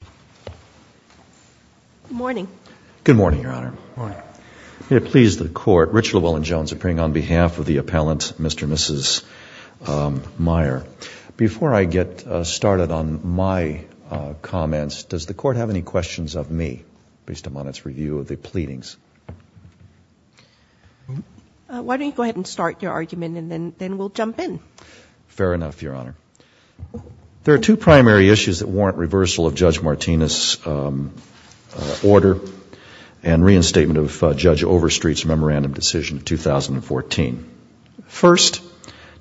Good morning. Good morning, Your Honor. Good morning. May it please the Court, Rich Llewellyn-Jones, appearing on behalf of the appellant, Mr. and Mrs. Meyer. Before I get started on my comments, does the Court have any questions of me, based upon its review of the pleadings? Why don't you go ahead and start your argument, and then we'll jump in. Fair enough, Your Honor. There are two primary issues that warrant reversal of Judge Martinez's order and reinstatement of Judge Overstreet's memorandum decision of 2014. First,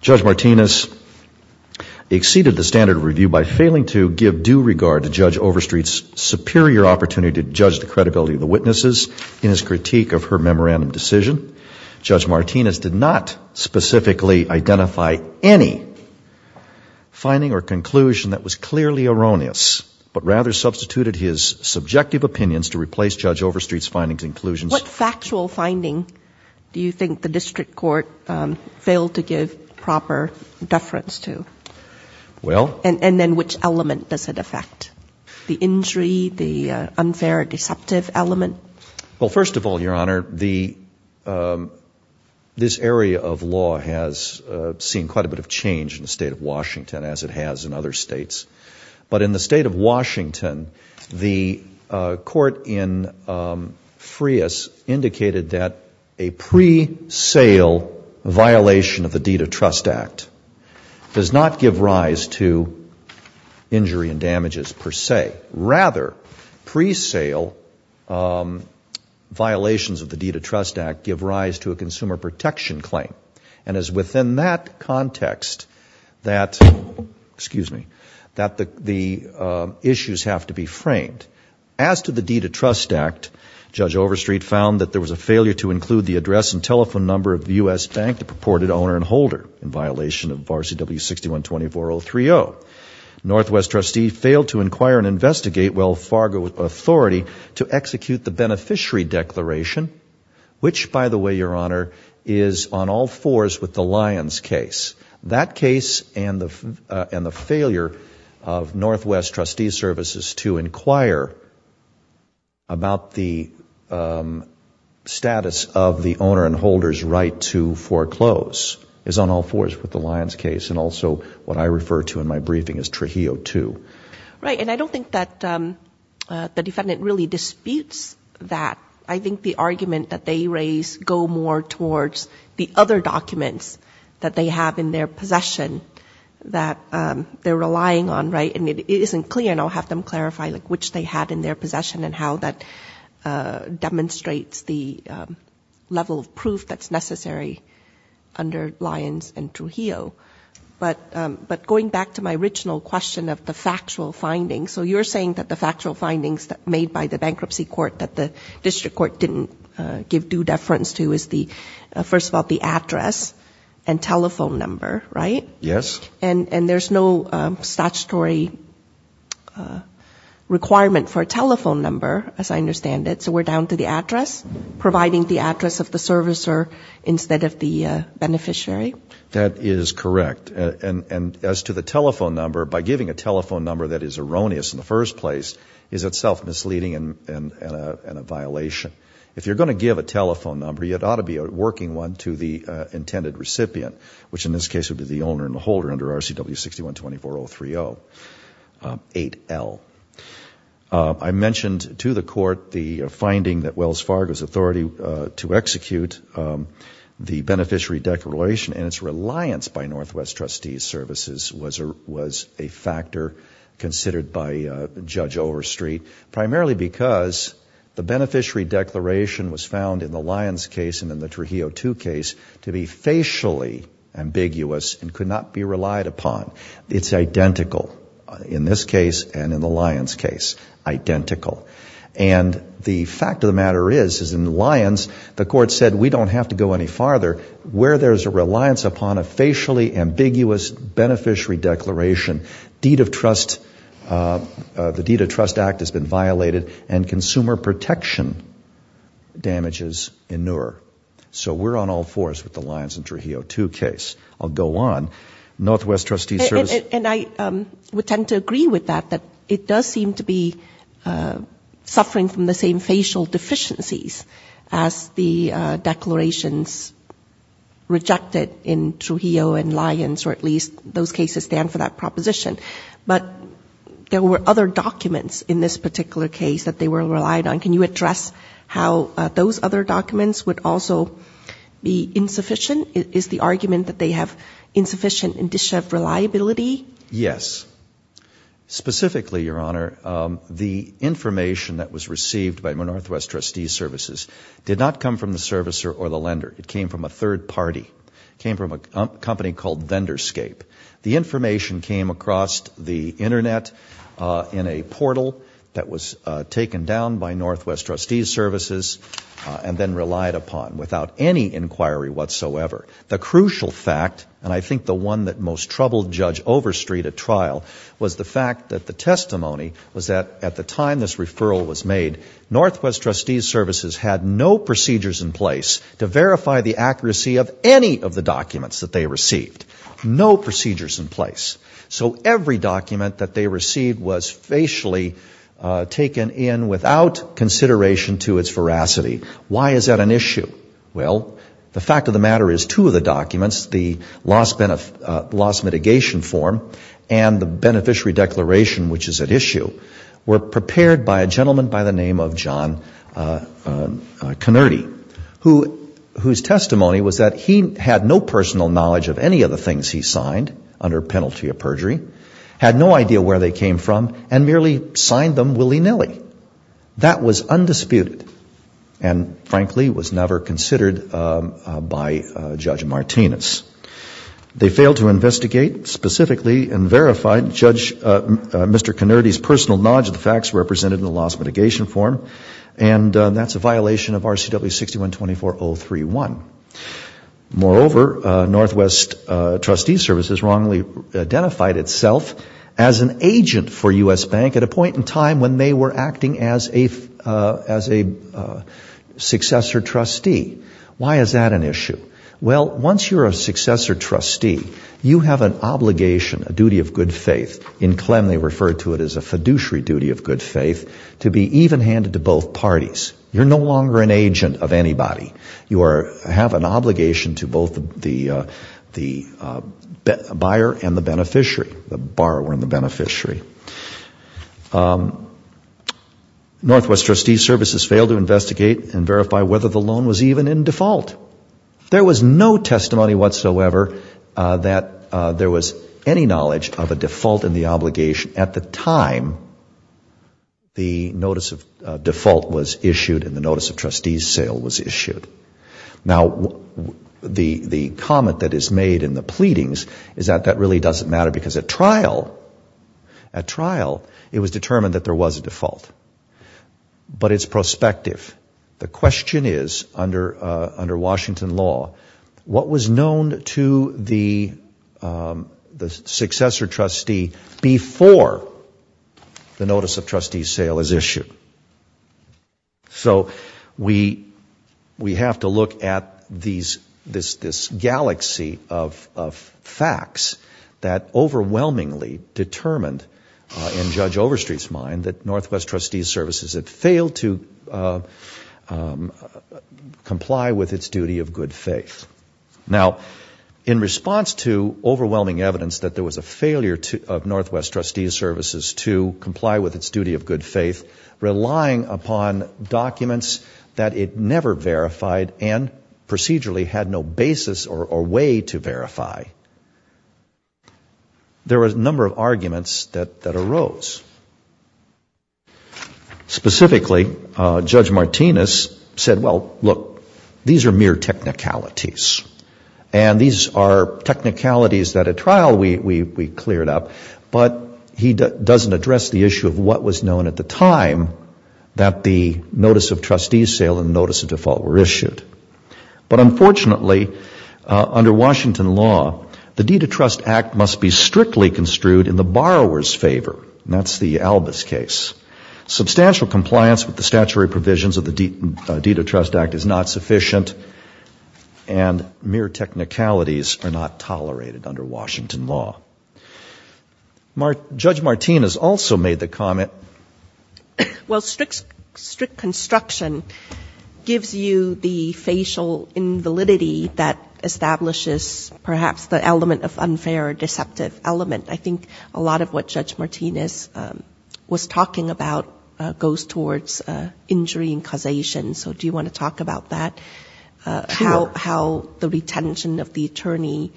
Judge Martinez exceeded the standard of review by failing to give due regard to Judge Overstreet's superior opportunity to judge the credibility of the witnesses in his critique of her memorandum decision. Judge Martinez did not specifically identify any finding or conclusion that was clearly erroneous, but rather substituted his subjective opinions to replace Judge Overstreet's findings and conclusions. What factual finding do you think the district court failed to give proper deference to? Well... And then which element does it affect? The injury, the unfair or deceptive element? Well, first of all, Your Honor, this area of law has seen quite a bit of change in the state of Washington, as it has in other states. But in the state of Washington, the court in Frias indicated that a pre-sale violation of the Deed of Trust Act does not give rise to injury and damages per se. Rather, pre-sale violations of the Deed of Trust Act give rise to a consumer protection claim. And it is within that context that the issues have to be framed. As to the Deed of Trust Act, Judge Overstreet found that there was a failure to include the address and telephone number of the U.S. Bank, the purported owner and holder, in violation of RCW 6120-4030. Northwest trustee failed to inquire and investigate WellFargo Authority to execute the beneficiary declaration, which, by the way, Your Honor, is on all fours with the Lyons case. That case and the failure of Northwest trustee services to inquire about the status of the owner and holder's right to foreclose is on all fours with the Lyons case, and also what I refer to in my briefing as Trujillo II. Right, and I don't think that the defendant really disputes that. I think the argument that they raise go more towards the other documents that they have in their possession that they're relying on, right? And it isn't clear, and I'll have them clarify, like which they had in their possession and how that demonstrates the level of proof that's necessary under Lyons and Trujillo. But going back to my original question of the factual findings, so you're saying that the factual findings made by the bankruptcy court that the district court didn't give due deference to is, first of all, the address and telephone number, right? Yes. And there's no statutory requirement for a telephone number, as I understand it, so we're down to the address, providing the address of the servicer instead of the beneficiary? That is correct. And as to the telephone number, by giving a telephone number that is erroneous in the first place is itself misleading and a violation. If you're going to give a telephone number, it ought to be a working one to the intended recipient, which in this case would be the owner and holder under RCW 61-2403-8L. I mentioned to the court the finding that Wells Fargo's authority to execute the beneficiary declaration and its reliance by Northwest Trustees Services was a factor considered by Judge Overstreet, primarily because the beneficiary declaration was found in the Lyons case and in the Trujillo 2 case to be facially ambiguous and could not be relied upon. It's identical in this case and in the Lyons case, identical. And the fact of the matter is, is in the Lyons, the court said we don't have to go any farther. Where there's a reliance upon a facially ambiguous beneficiary declaration, the Deed of Trust Act has been violated and consumer protection damages inure. So we're on all fours with the Lyons and Trujillo 2 case. I'll go on. And I would tend to agree with that, that it does seem to be suffering from the same facial deficiencies as the declarations rejected in Trujillo and Lyons, or at least those cases stand for that proposition. But there were other documents in this particular case that they were relied on. Can you address how those other documents would also be insufficient? Is the argument that they have insufficient indicia of reliability? Yes. Specifically, Your Honor, the information that was received by Northwest Trustees Services did not come from the servicer or the lender. It came from a third party. It came from a company called Vendorscape. The information came across the Internet in a portal that was taken down by Northwest Trustees Services and then relied upon without any inquiry whatsoever. The crucial fact, and I think the one that most troubled Judge Overstreet at trial, was the fact that the testimony was that at the time this referral was made, Northwest Trustees Services had no procedures in place to verify the accuracy of any of the documents that they received. No procedures in place. So every document that they received was facially taken in without consideration to its veracity. Why is that an issue? Well, the fact of the matter is two of the documents, the loss mitigation form and the beneficiary declaration, which is at issue, were prepared by a gentleman by the name of John Connerty, whose testimony was that he had no personal knowledge of any of the things he signed under penalty of perjury, had no idea where they came from, and merely signed them willy-nilly. That was undisputed. And, frankly, was never considered by Judge Martinez. They failed to investigate specifically and verified Mr. Connerty's personal knowledge of the facts represented in the loss mitigation form, and that's a violation of RCW 6124031. Moreover, Northwest Trustees Services wrongly identified itself as an agent for U.S. Bank at a point in time when they were acting as a successor trustee. Why is that an issue? Well, once you're a successor trustee, you have an obligation, a duty of good faith, in Clem they refer to it as a fiduciary duty of good faith, to be even-handed to both parties. You're no longer an agent of anybody. You have an obligation to both the buyer and the beneficiary, the borrower and the beneficiary. Northwest Trustees Services failed to investigate and verify whether the loan was even in default. There was no testimony whatsoever that there was any knowledge of a default in the obligation at the time the notice of default was issued and the notice of trustees sale was issued. Now, the comment that is made in the pleadings is that that really doesn't matter because at trial it was determined that there was a default. But it's prospective. The question is, under Washington law, what was known to the successor trustee before the notice of trustees sale is issued? So we have to look at this galaxy of facts that overwhelmingly determined in Judge Overstreet's mind that Northwest Trustees Services had failed to comply with its duty of good faith. Now, in response to overwhelming evidence that there was a failure of Northwest Trustees Services to comply with its duty of good faith, relying upon documents that it never verified and procedurally had no basis or way to verify, there was a number of arguments that arose. Specifically, Judge Martinez said, well, look, these are mere technicalities. And these are technicalities that at trial we cleared up, but he doesn't address the issue of what was known at the time that the notice of trustees sale and notice of default were issued. But unfortunately, under Washington law, the deed of trust act must be strictly construed in the borrower's favor. And that's the Albus case. Substantial compliance with the statutory provisions of the deed of trust act is not sufficient, and mere technicalities are not tolerated under Washington law. Judge Martinez also made the comment. Well, strict construction gives you the facial invalidity that establishes perhaps the element of unfair or deceptive element. I think a lot of what Judge Martinez was talking about goes towards injury and causation. So do you want to talk about that, how the retention of the attorney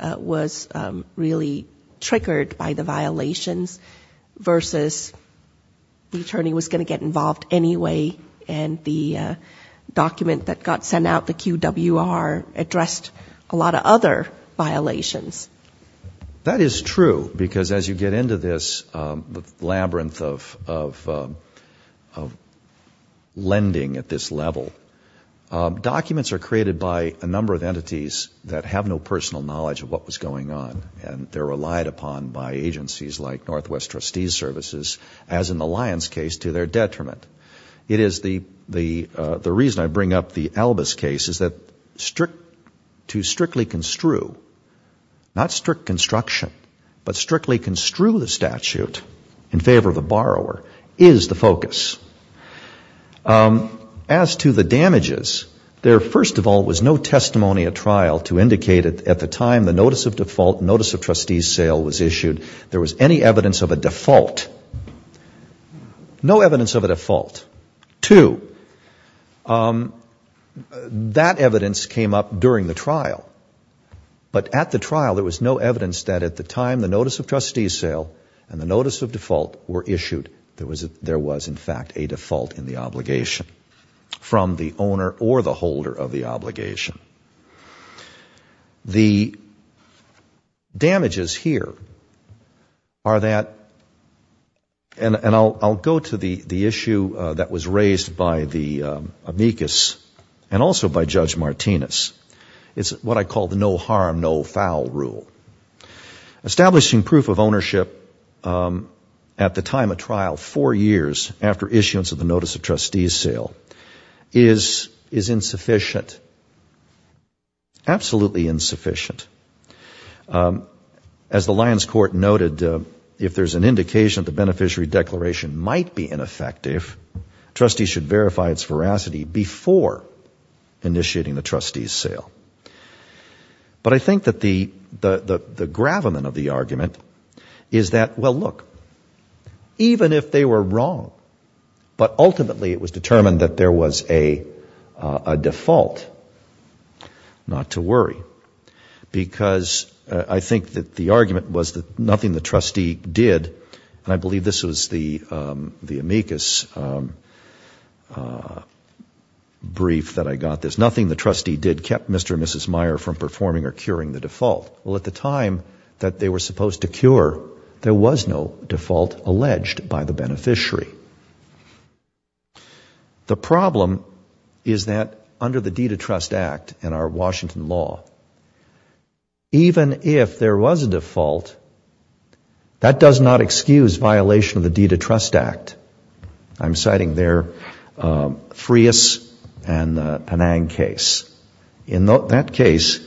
was really triggered by the violations, versus the attorney was going to get involved anyway and the document that got sent out, the QWR, addressed a lot of other violations? That is true, because as you get into this labyrinth of lending at this level, documents are created by a number of entities that have no personal knowledge of what was going on, and they're relied upon by agencies like Northwest Trustees Services, as in the Lyons case, to their detriment. It is the reason I bring up the Albus case, is that to strictly construe, not strict construction, but strictly construe the statute in favor of the borrower, is the focus. As to the damages, there, first of all, was no testimony at trial to indicate at the time the notice of default, notice of trustees sale was issued, there was any evidence of a default. No evidence of a default. Two, that evidence came up during the trial, but at the trial there was no evidence that at the time the notice of trustees sale and the notice of default were issued, there was, in fact, a default in the obligation from the owner or the holder of the obligation. The damages here are that, and I'll go to the issue that was raised by the amicus and also by Judge Martinez, it's what I call the no harm, no foul rule. Establishing proof of ownership at the time of trial, four years after issuance of the notice of trustees sale, is insufficient. Absolutely insufficient. As the Lyons Court noted, if there's an indication that the beneficiary declaration might be ineffective, trustees should verify its veracity before initiating the trustees sale. But I think that the gravamen of the argument is that, well, look, even if they were wrong, but ultimately it was determined that there was a default, not to worry. Because I think that the argument was that nothing the trustee did, and I believe this was the amicus brief that I got this, that nothing the trustee did kept Mr. and Mrs. Meyer from performing or curing the default. Well, at the time that they were supposed to cure, there was no default alleged by the beneficiary. The problem is that under the Deed of Trust Act and our Washington law, even if there was a default, that does not excuse violation of the Deed of Trust Act. I'm citing there Freas and Anang case. In that case,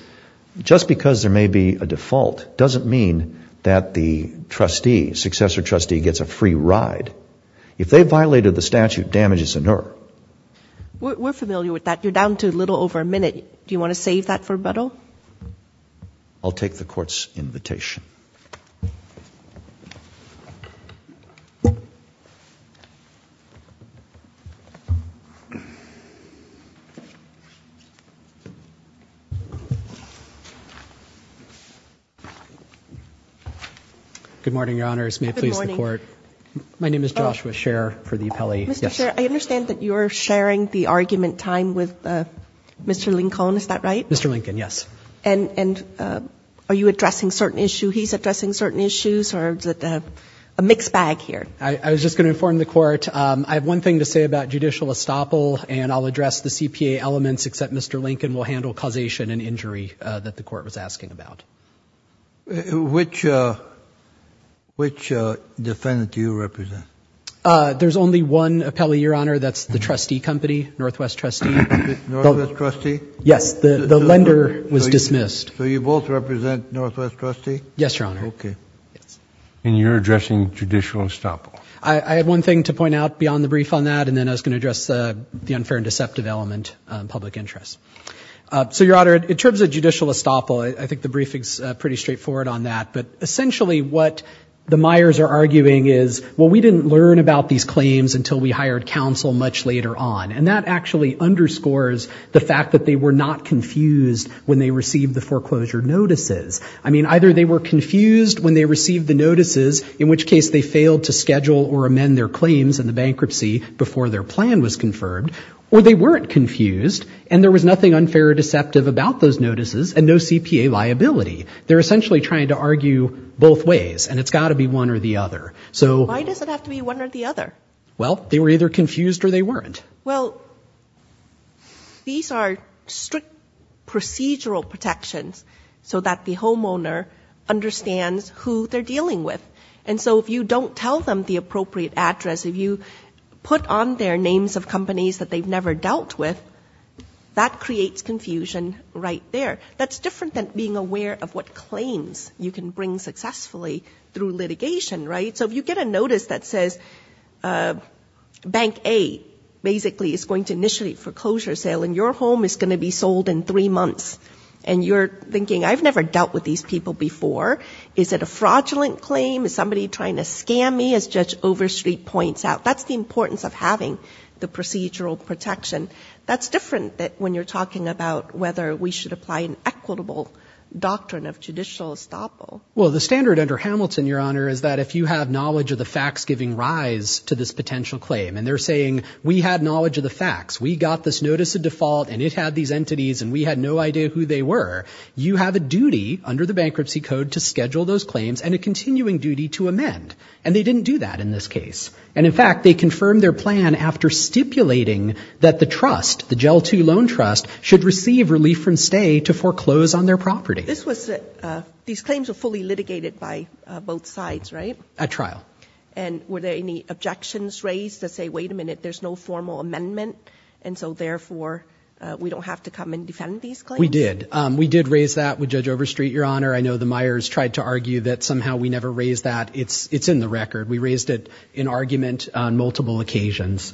just because there may be a default doesn't mean that the trustee, successor trustee, gets a free ride. If they violated the statute, damage is inert. We're familiar with that. You're down to a little over a minute. Do you want to save that for Butto? I'll take the Court's invitation. Good morning, Your Honors. May it please the Court. My name is Joshua Sher for the appellee. Mr. Sher, I understand that you're sharing the argument time with Mr. Lincoln, is that right? Mr. Lincoln, yes. And are you addressing certain issues? He's addressing certain issues, or is it a mixed bag here? I was just going to inform the Court, I have one thing to say about judicial estoppel, and I'll address the CPA elements, except Mr. Lincoln will handle causation and injury that the Court was asking about. Which defendant do you represent? There's only one appellee, Your Honor, that's the trustee company, Northwest Trustee. Yes, the lender was dismissed. And you're addressing judicial estoppel? I have one thing to point out beyond the brief on that, and then I was going to address the unfair and deceptive element, public interest. So, Your Honor, in terms of judicial estoppel, I think the briefing's pretty straightforward on that, but essentially what the Myers are arguing is, well, we didn't learn about these claims until we hired counsel much later on. And that actually underscores the fact that they were not confused when they received the foreclosure notices. I mean, either they were confused when they received the notices, in which case they failed to schedule or amend their claims in the bankruptcy before their plan was confirmed, or they weren't confused and there was nothing unfair or deceptive about those notices and no CPA liability. They're essentially trying to argue both ways, and it's got to be one or the other. Why does it have to be one or the other? Well, they were either confused or they weren't. Well, these are strict procedural protections so that the homeowner understands who they're dealing with. And so if you don't tell them the appropriate address, if you put on their names of companies that they've never dealt with, that creates confusion right there. That's different than being aware of what claims you can bring successfully through litigation, right? So if you get a notice that says Bank A basically is going to initiate foreclosure sale and your home is going to be sold in three months, and you're thinking, I've never dealt with these people before, is it a fraudulent claim? Is somebody trying to scam me, as Judge Overstreet points out? That's the importance of having the procedural protection. That's different than when you're talking about whether we should apply an equitable doctrine of judicial estoppel. Well, the standard under Hamilton, Your Honor, is that if you have knowledge of the facts giving rise to this potential claim, and they're saying, we had knowledge of the facts, we got this notice of default and it had these entities and we had no idea who they were, you have a duty under the bankruptcy code to schedule those claims and a continuing duty to amend. And they didn't do that in this case. And in fact, they confirmed their plan after stipulating that the trust, the Gel II Loan Trust, should receive relief from stay to foreclose on their property. These claims were fully litigated by both sides, right? At trial. And were there any objections raised that say, wait a minute, there's no formal amendment, and so therefore we don't have to come and defend these claims? We did. We did raise that with Judge Overstreet, Your Honor. I know the Myers tried to argue that somehow we never raised that. It's in the record. We raised it in argument on multiple occasions.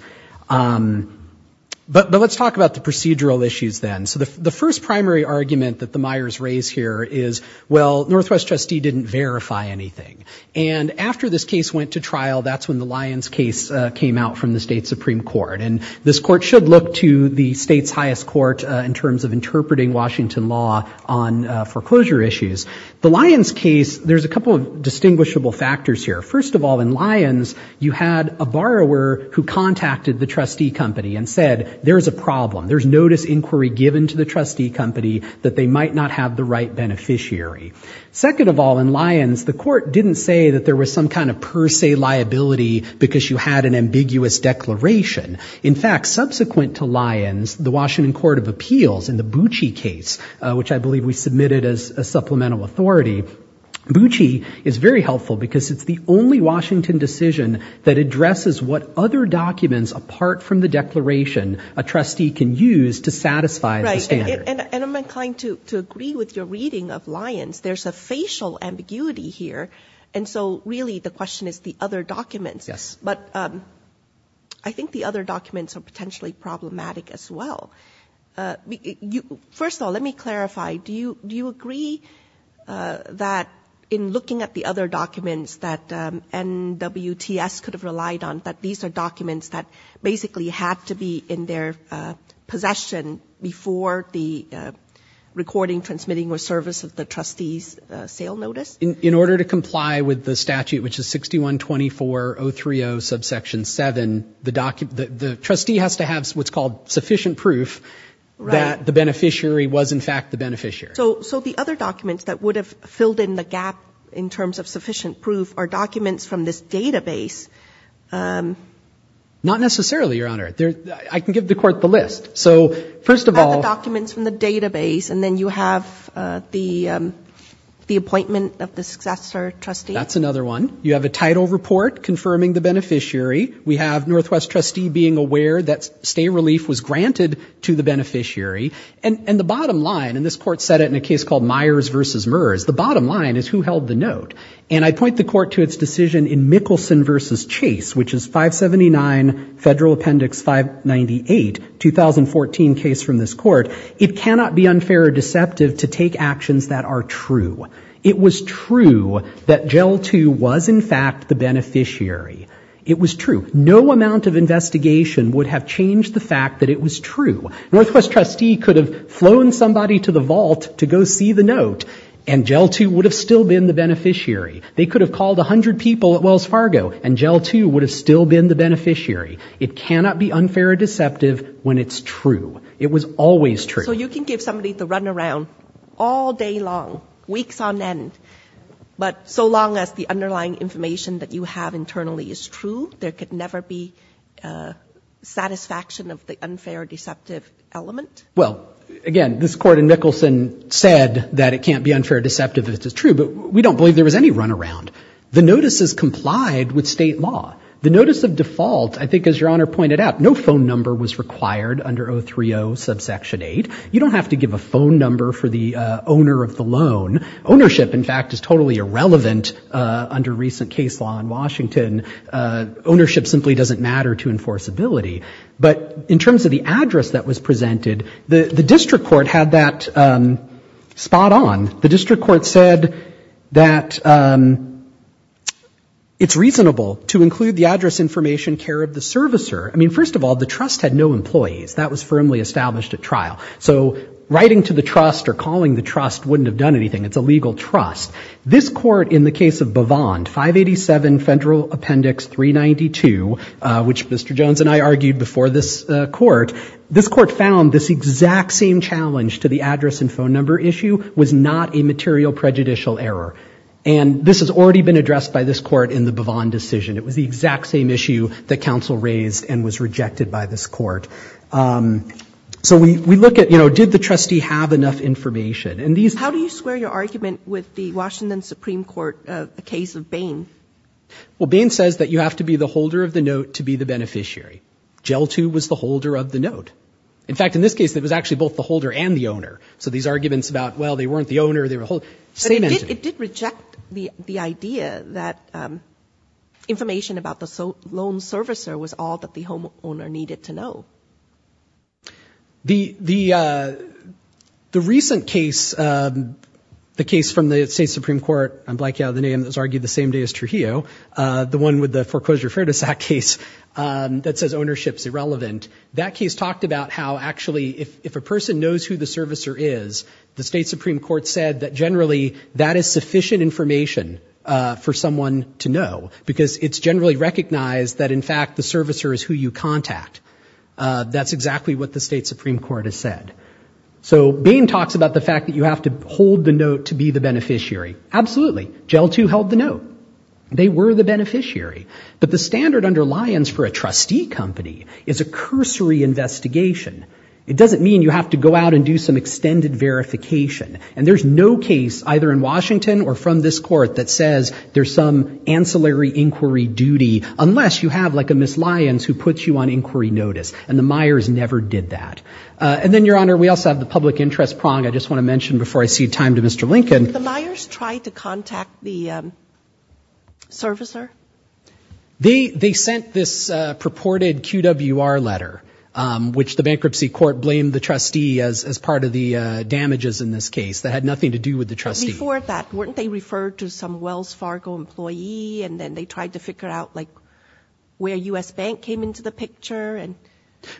But let's talk about the procedural issues then. So the first primary argument that the Myers raised here is, well, Northwest trustee didn't verify anything. And after this case went to trial, that's when the Lyons case came out from the state Supreme Court. And this court should look to the state's highest court in terms of interpreting Washington law on foreclosure issues. The Lyons case, there's a couple of distinguishable factors here. First of all, in Lyons, you had a borrower who contacted the trustee company and said, there's a problem. There's notice inquiry given to the trustee company that they might not have the right beneficiary. Second of all, in Lyons, the court didn't say that there was some kind of per se liability because you had an ambiguous declaration. In fact, subsequent to Lyons, the Washington Court of Appeals in the Bucci case, which I believe we submitted as a supplemental authority, Bucci is very helpful because it's the only Washington decision that addresses what other documents apart from the declaration a trustee can use to satisfy the standard. And I'm inclined to agree with your reading of Lyons. There's a facial ambiguity here. And so really the question is the other documents. But I think the other documents are potentially problematic as well. First of all, let me clarify. Do you agree that in looking at the other documents that NWTS could have relied on, that these are documents that basically had to be in their possession before the recording, before the recording, and then transmitting or service of the trustee's sale notice? In order to comply with the statute, which is 6124030 subsection 7, the trustee has to have what's called sufficient proof that the beneficiary was in fact the beneficiary. So the other documents that would have filled in the gap in terms of sufficient proof are documents from this database. Not necessarily, Your Honor. I can give the Court the list. So first of all... You have the documents from the database, and then you have the appointment of the successor trustee. That's another one. You have a title report confirming the beneficiary. We have Northwest trustee being aware that stay relief was granted to the beneficiary. And the bottom line, and this Court said it in a case called Myers v. Merz, the bottom line is who held the note. And I point the Court to its decision in Mickelson v. Chase, which is 579 Federal Appendix 598, 2014 case from this Court. It cannot be unfair or deceptive to take actions that are true. It was true that Gel 2 was in fact the beneficiary. It was true. No amount of investigation would have changed the fact that it was true. Northwest trustee could have flown somebody to the vault to go see the note, and Gel 2 would have still been the beneficiary. They could have called 100 people at Wells Fargo, and Gel 2 would have still been the beneficiary. It cannot be unfair or deceptive when it's true. It was always true. So you can give somebody the runaround all day long, weeks on end, but so long as the underlying information that you have internally is true, there could never be satisfaction of the unfair or deceptive element? Well, again, this Court in Mickelson said that it can't be unfair or deceptive if it's true, but we don't believe there was any runaround. The notices complied with State law. The notice of default, I think as Your Honor pointed out, no phone number was required under 030 subsection 8. You don't have to give a phone number for the owner of the loan. Ownership, in fact, is totally irrelevant under recent case law in Washington. Ownership simply doesn't matter to enforceability. But in terms of the address that was presented, the district court had that spot on. The district court said that it's reasonable to include the address information, care of the servicer. I mean, first of all, the trust had no employees. That was firmly established at trial. So writing to the trust or calling the trust wouldn't have done anything. It's a legal trust. This Court in the case of Bavand, 587 Federal Appendix 392, which Mr. Jones and I argued before this Court, this Court found this exact same challenge to the address and phone number issue was not a material prejudicial error. And this has already been addressed by this Court in the Bavand decision. It was the exact same issue that counsel raised and was rejected by this Court. So we look at, you know, did the trustee have enough information? And these... How do you square your argument with the Washington Supreme Court case of Bain? Well, Bain says that you have to be the holder of the note to be the beneficiary. Gel Tube was the holder of the note. In fact, in this case, it was actually both the holder and the owner. So these arguments about, well, they weren't the owner, they were the holder, same entity. But it did reject the idea that information about the loan servicer was all that the homeowner needed to know. The recent case, the case from the State Supreme Court, I'm blanking out the name, that was argued the same day as Trujillo, the one with the foreclosure Fairness Act case that says ownership's irrelevant. That case talked about how, actually, if a person knows who the servicer is, the State Supreme Court said that generally that is sufficient information for someone to know, because it's generally recognized that, in fact, the servicer is who you contact. That's exactly what the State Supreme Court has said. So Bain talks about the fact that you have to hold the note to be the beneficiary. Absolutely. Gel Tube held the note. They were the beneficiary. But the standard under Lyons for a trustee company is a cursory investigation. It doesn't mean you have to go out and do some extended verification. And there's no case, either in Washington or from this Court, that says there's some ancillary inquiry duty, unless you have, like, a Miss Lyons who puts you on inquiry notice. And the Myers never did that. And then, Your Honor, we also have the public interest prong I just want to mention before I cede time to Mr. Lincoln. The Myers tried to contact the servicer? They sent this purported QWR letter, which the bankruptcy court blamed the trustee as part of the damages in this case. That had nothing to do with the trustee. But before that, weren't they referred to some Wells Fargo employee, and then they tried to figure out, like, where U.S. Bank came into the picture?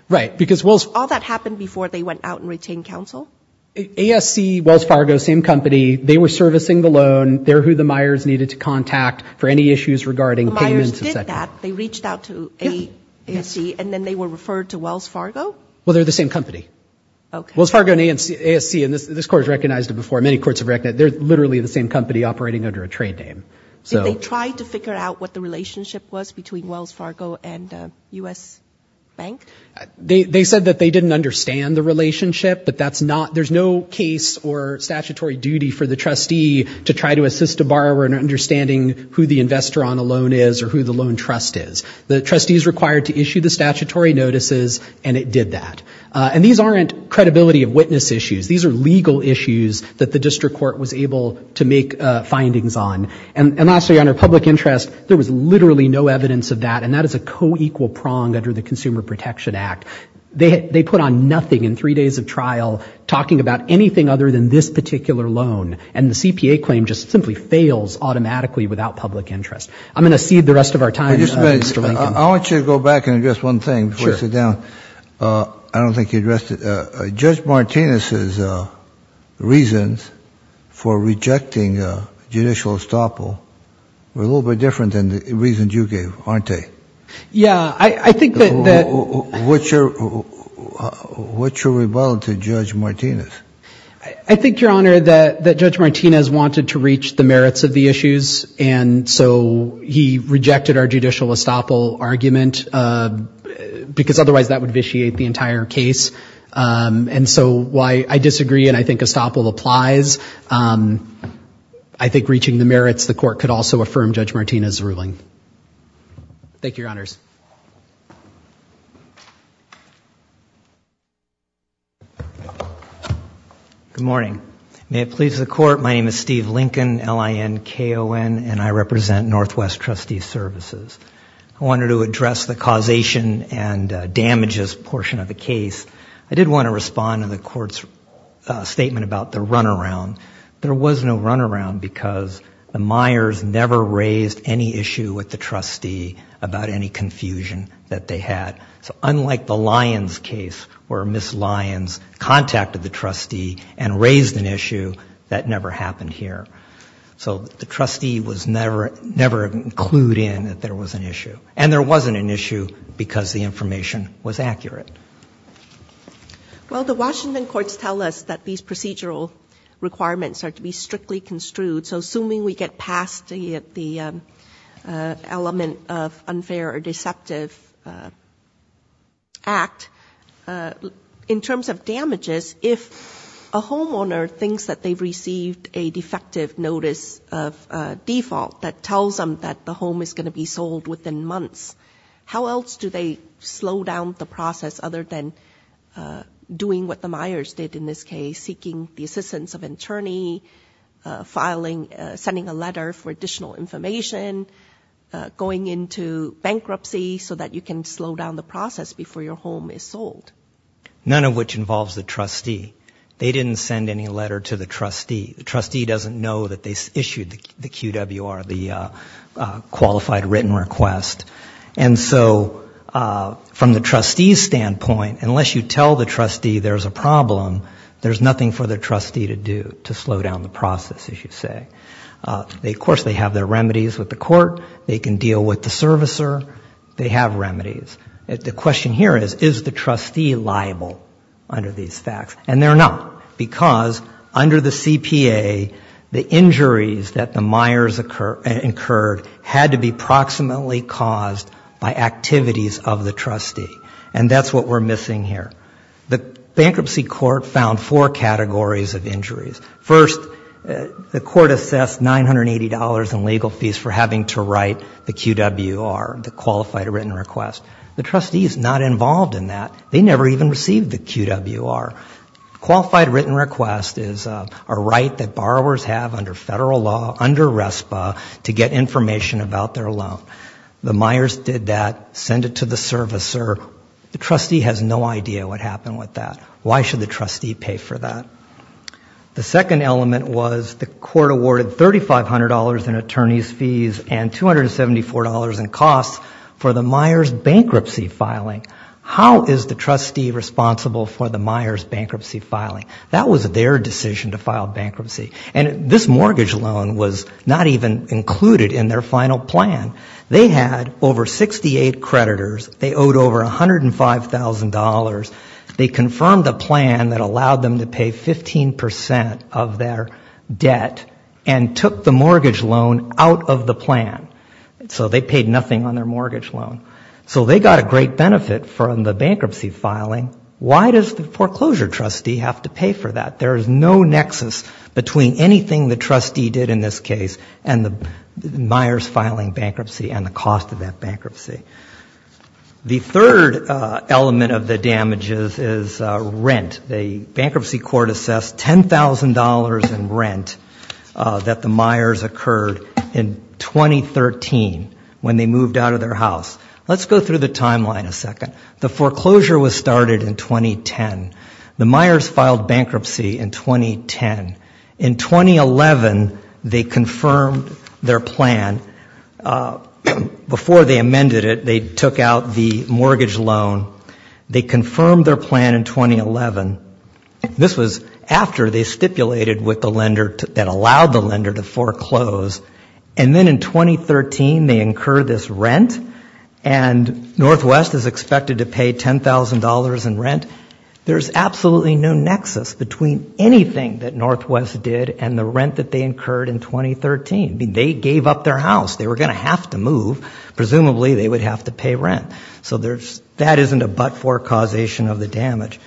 Right. Because Wells... All that happened before they went out and retained counsel? ASC, Wells Fargo, same company. They were servicing the loan. They're who the Myers needed to contact for any issues regarding payments. The Myers did that. They reached out to ASC, and then they were referred to Wells Fargo? Well, they're the same company. Wells Fargo and ASC, and this court has recognized it before, many courts have recognized it, they're literally the same company operating under a trade name. Did they try to figure out what the relationship was between Wells Fargo and U.S. Bank? They said that they didn't understand the relationship, but that's not... There's no case or statutory duty for the trustee to try to assist a borrower in understanding who the investor on a loan is or who the loan trust is. The trustee is required to issue the statutory notices, and it did that. And these aren't credibility of witness issues. These are legal issues that the district court was able to make findings on. And lastly, Your Honor, public interest, there was literally no evidence of that, and that is a co-equal prong under the Consumer Protection Act. They put on nothing in three days of trial talking about anything other than this particular loan. And the CPA claim just simply fails automatically without public interest. I'm going to cede the rest of our time to Mr. Lincoln. I want you to go back and address one thing before you sit down. I don't think you addressed it. Judge Martinez's reasons for rejecting judicial estoppel were a little bit different than the reasons you gave, aren't they? Yeah, I think that... What's your rebuttal to Judge Martinez? I think, Your Honor, that Judge Martinez wanted to reach the merits of the issues. And so he rejected our judicial estoppel argument because otherwise that would vitiate the entire case. And so I disagree, and I think estoppel applies. I think reaching the merits, the court could also affirm Judge Martinez's ruling. Thank you, Your Honors. Good morning. May it please the Court, my name is Steve Lincoln, L-I-N-K-O-N, and I represent Northwest Trustee Services. I wanted to address the causation and damages portion of the case. I did want to respond to the Court's statement about the runaround. There was no runaround because the Myers never raised any issue with the trustee about any confusion that they had. So unlike the Lyons case where Ms. Lyons contacted the trustee and raised an issue, that never happened here. So the trustee was never, never clued in that there was an issue. And there wasn't an issue because the information was accurate. Well, the Washington courts tell us that these procedural requirements are to be strictly construed. So assuming we get past the element of unfair or deceptive runaround, I think that's a good thing. In terms of damages, if a homeowner thinks that they've received a defective notice of default that tells them that the home is going to be sold within months, how else do they slow down the process other than doing what the Myers did in this case, seeking the assistance of an attorney, sending a letter for additional information, going into bankruptcy so that you can slow down the process before your home is sold? None of which involves the trustee. They didn't send any letter to the trustee. The trustee doesn't know that they issued the QWR, the Qualified Written Request. And so from the trustee's standpoint, unless you tell the trustee there's a problem, there's nothing for the trustee to do to slow down the process, as you say. Of course, they have their remedies with the court. They can deal with the servicer. They have remedies. The question here is, is the trustee liable under these facts? We found four categories of injuries. First, the court assessed $980 in legal fees for having to write the QWR, the Qualified Written Request. The trustee is not involved in that. They never even received the QWR. Qualified Written Request is a right that borrowers have under federal law, under RESPA, to get information about their loan. The Myers did that, sent it to the servicer. The trustee has no idea what happened with that. Why should the trustee pay for that? The second element was the court awarded $3,500 in attorney's fees and $274 in costs for the Myers bankruptcy filing. How is the trustee responsible for the Myers bankruptcy filing? That was their decision to file bankruptcy. And this mortgage loan was not even included in their final plan. They had over 68 creditors. They owed over $105,000. They confirmed the plan that allowed them to pay 15% of their debt and took the mortgage loan out of the plan. So they paid nothing on their mortgage loan. So they got a great benefit from the bankruptcy filing. Why does the foreclosure trustee have to pay for that? There is no nexus between anything the trustee did in this case and the Myers filing bankruptcy and the cost of that bankruptcy. The third element of the damages is rent. The bankruptcy court assessed $10,000 in rent that the Myers occurred in 2013 when they moved out of their house. Let's go through the timeline a second. The foreclosure was started in 2010. The Myers filed bankruptcy in 2010. In 2011, they confirmed their plan. Before they amended it, they took out the mortgage loan. They confirmed their plan in 2011. This was after they stipulated with the lender that allowed the lender to foreclose. And then in 2013, they incurred this rent, and Northwest is expected to pay $10,000 in rent. There's absolutely no nexus between anything that Northwest did and the rent that they incurred in 2013. They gave up their house. They were going to have to move. Presumably they would have to pay rent. So that isn't a but-for causation of the damage.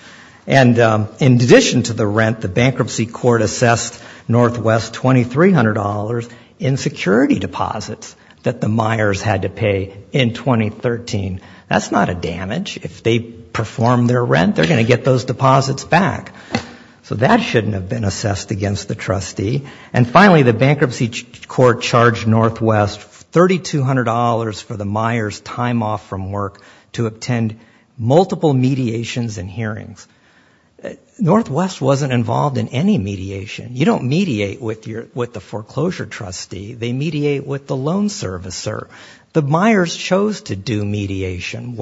And in addition to the rent, the bankruptcy court assessed Northwest $2,300 in security deposits that the Myers had to pay in 2013. That's not a damage. If they perform their rent, they're going to get those deposits back. So that shouldn't have been assessed against the trustee. And finally, the bankruptcy court charged Northwest $3,200 for the Myers' time off from work to attend multiple mediations and hearings. Northwest wasn't involved in any mediation. You don't mediate with the foreclosure trustee. They mediate with the loan servicer. The Myers chose to do mediation.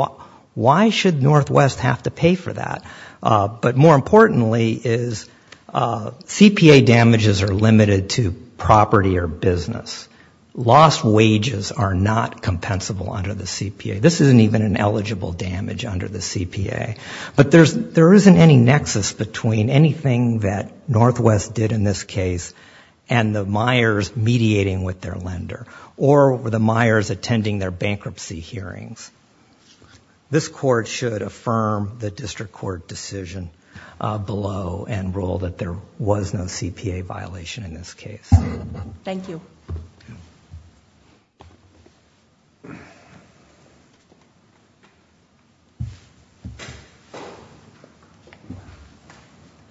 Why should Northwest have to pay for that? But more importantly is CPA damages are limited to property or business. Lost wages are not compensable under the CPA. This isn't even an eligible damage under the CPA. But there isn't any nexus between anything that Northwest did in this case and the Myers mediating with their lender or the Myers attending their bankruptcy hearings. This court should affirm the district court decision below and rule that there was no CPA violation in this case. Thank you.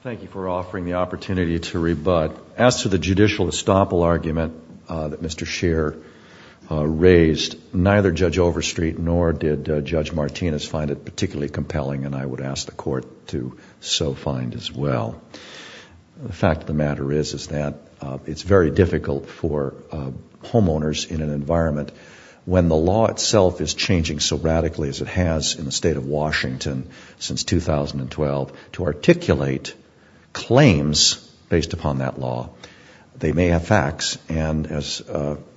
Thank you for offering the opportunity to rebut. As to the judicial estoppel argument that Mr. Scheer raised, neither Judge Overstreet nor did Judge Martinez find it particularly compelling, and I would ask the court to so find as well. The fact of the matter is that it's very difficult for homeowners in an environment when the law itself is changing so radically as it has in the state of Washington, since 2012, to articulate claims based upon that law. They may have facts, and as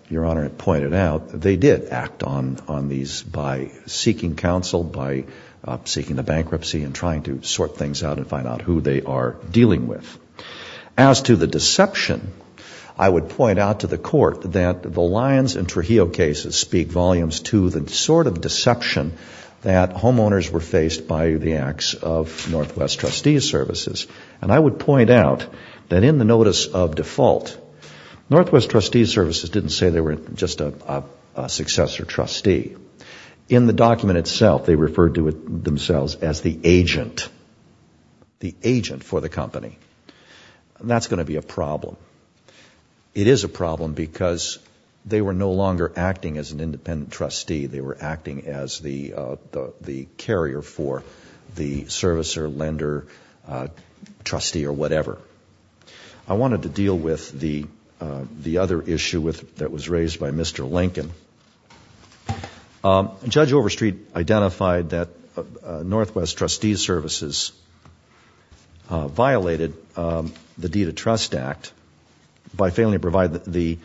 Your Honor had pointed out, they did act on these by seeking counsel, by seeking a bankruptcy, and trying to sort things out and find out who they are dealing with. As to the deception, I would point out to the court that the Lyons and Trujillo cases speak volumes to the sort of deception that homeowners were faced by the CPA. And I would point out that in the notice of default, Northwest Trustee Services didn't say they were just a successor trustee. In the document itself, they referred to themselves as the agent, the agent for the company. That's going to be a problem. It is a problem because they were no longer acting as an independent trustee. They were no longer the servicer, lender, trustee, or whatever. I wanted to deal with the other issue that was raised by Mr. Lincoln. Judge Overstreet identified that Northwest Trustee Services violated the Deed of Trust Act by failing to provide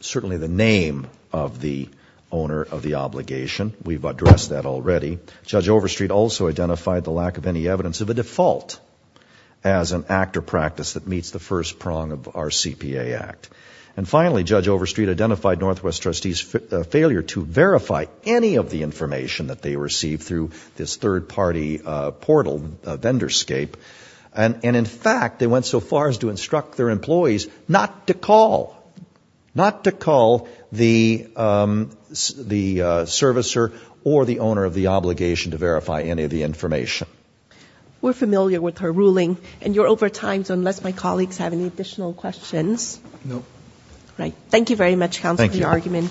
certainly the name of the owner of the obligation. We've addressed that already. Judge Overstreet also identified the lack of any evidence of a default as an act or practice that meets the first prong of our CPA Act. And finally, Judge Overstreet identified Northwest Trustees' failure to verify any of the information that they received through this third-party portal, Vendorscape. And in fact, they went so far as to instruct their employees not to call, not to call the service service provider. And in fact, they went so far as to instruct their employees not to call the service provider or the owner of the obligation to verify any of the information. We're familiar with her ruling, and you're over time, so unless my colleagues have any additional questions. Thank you very much, counsel, for your argument.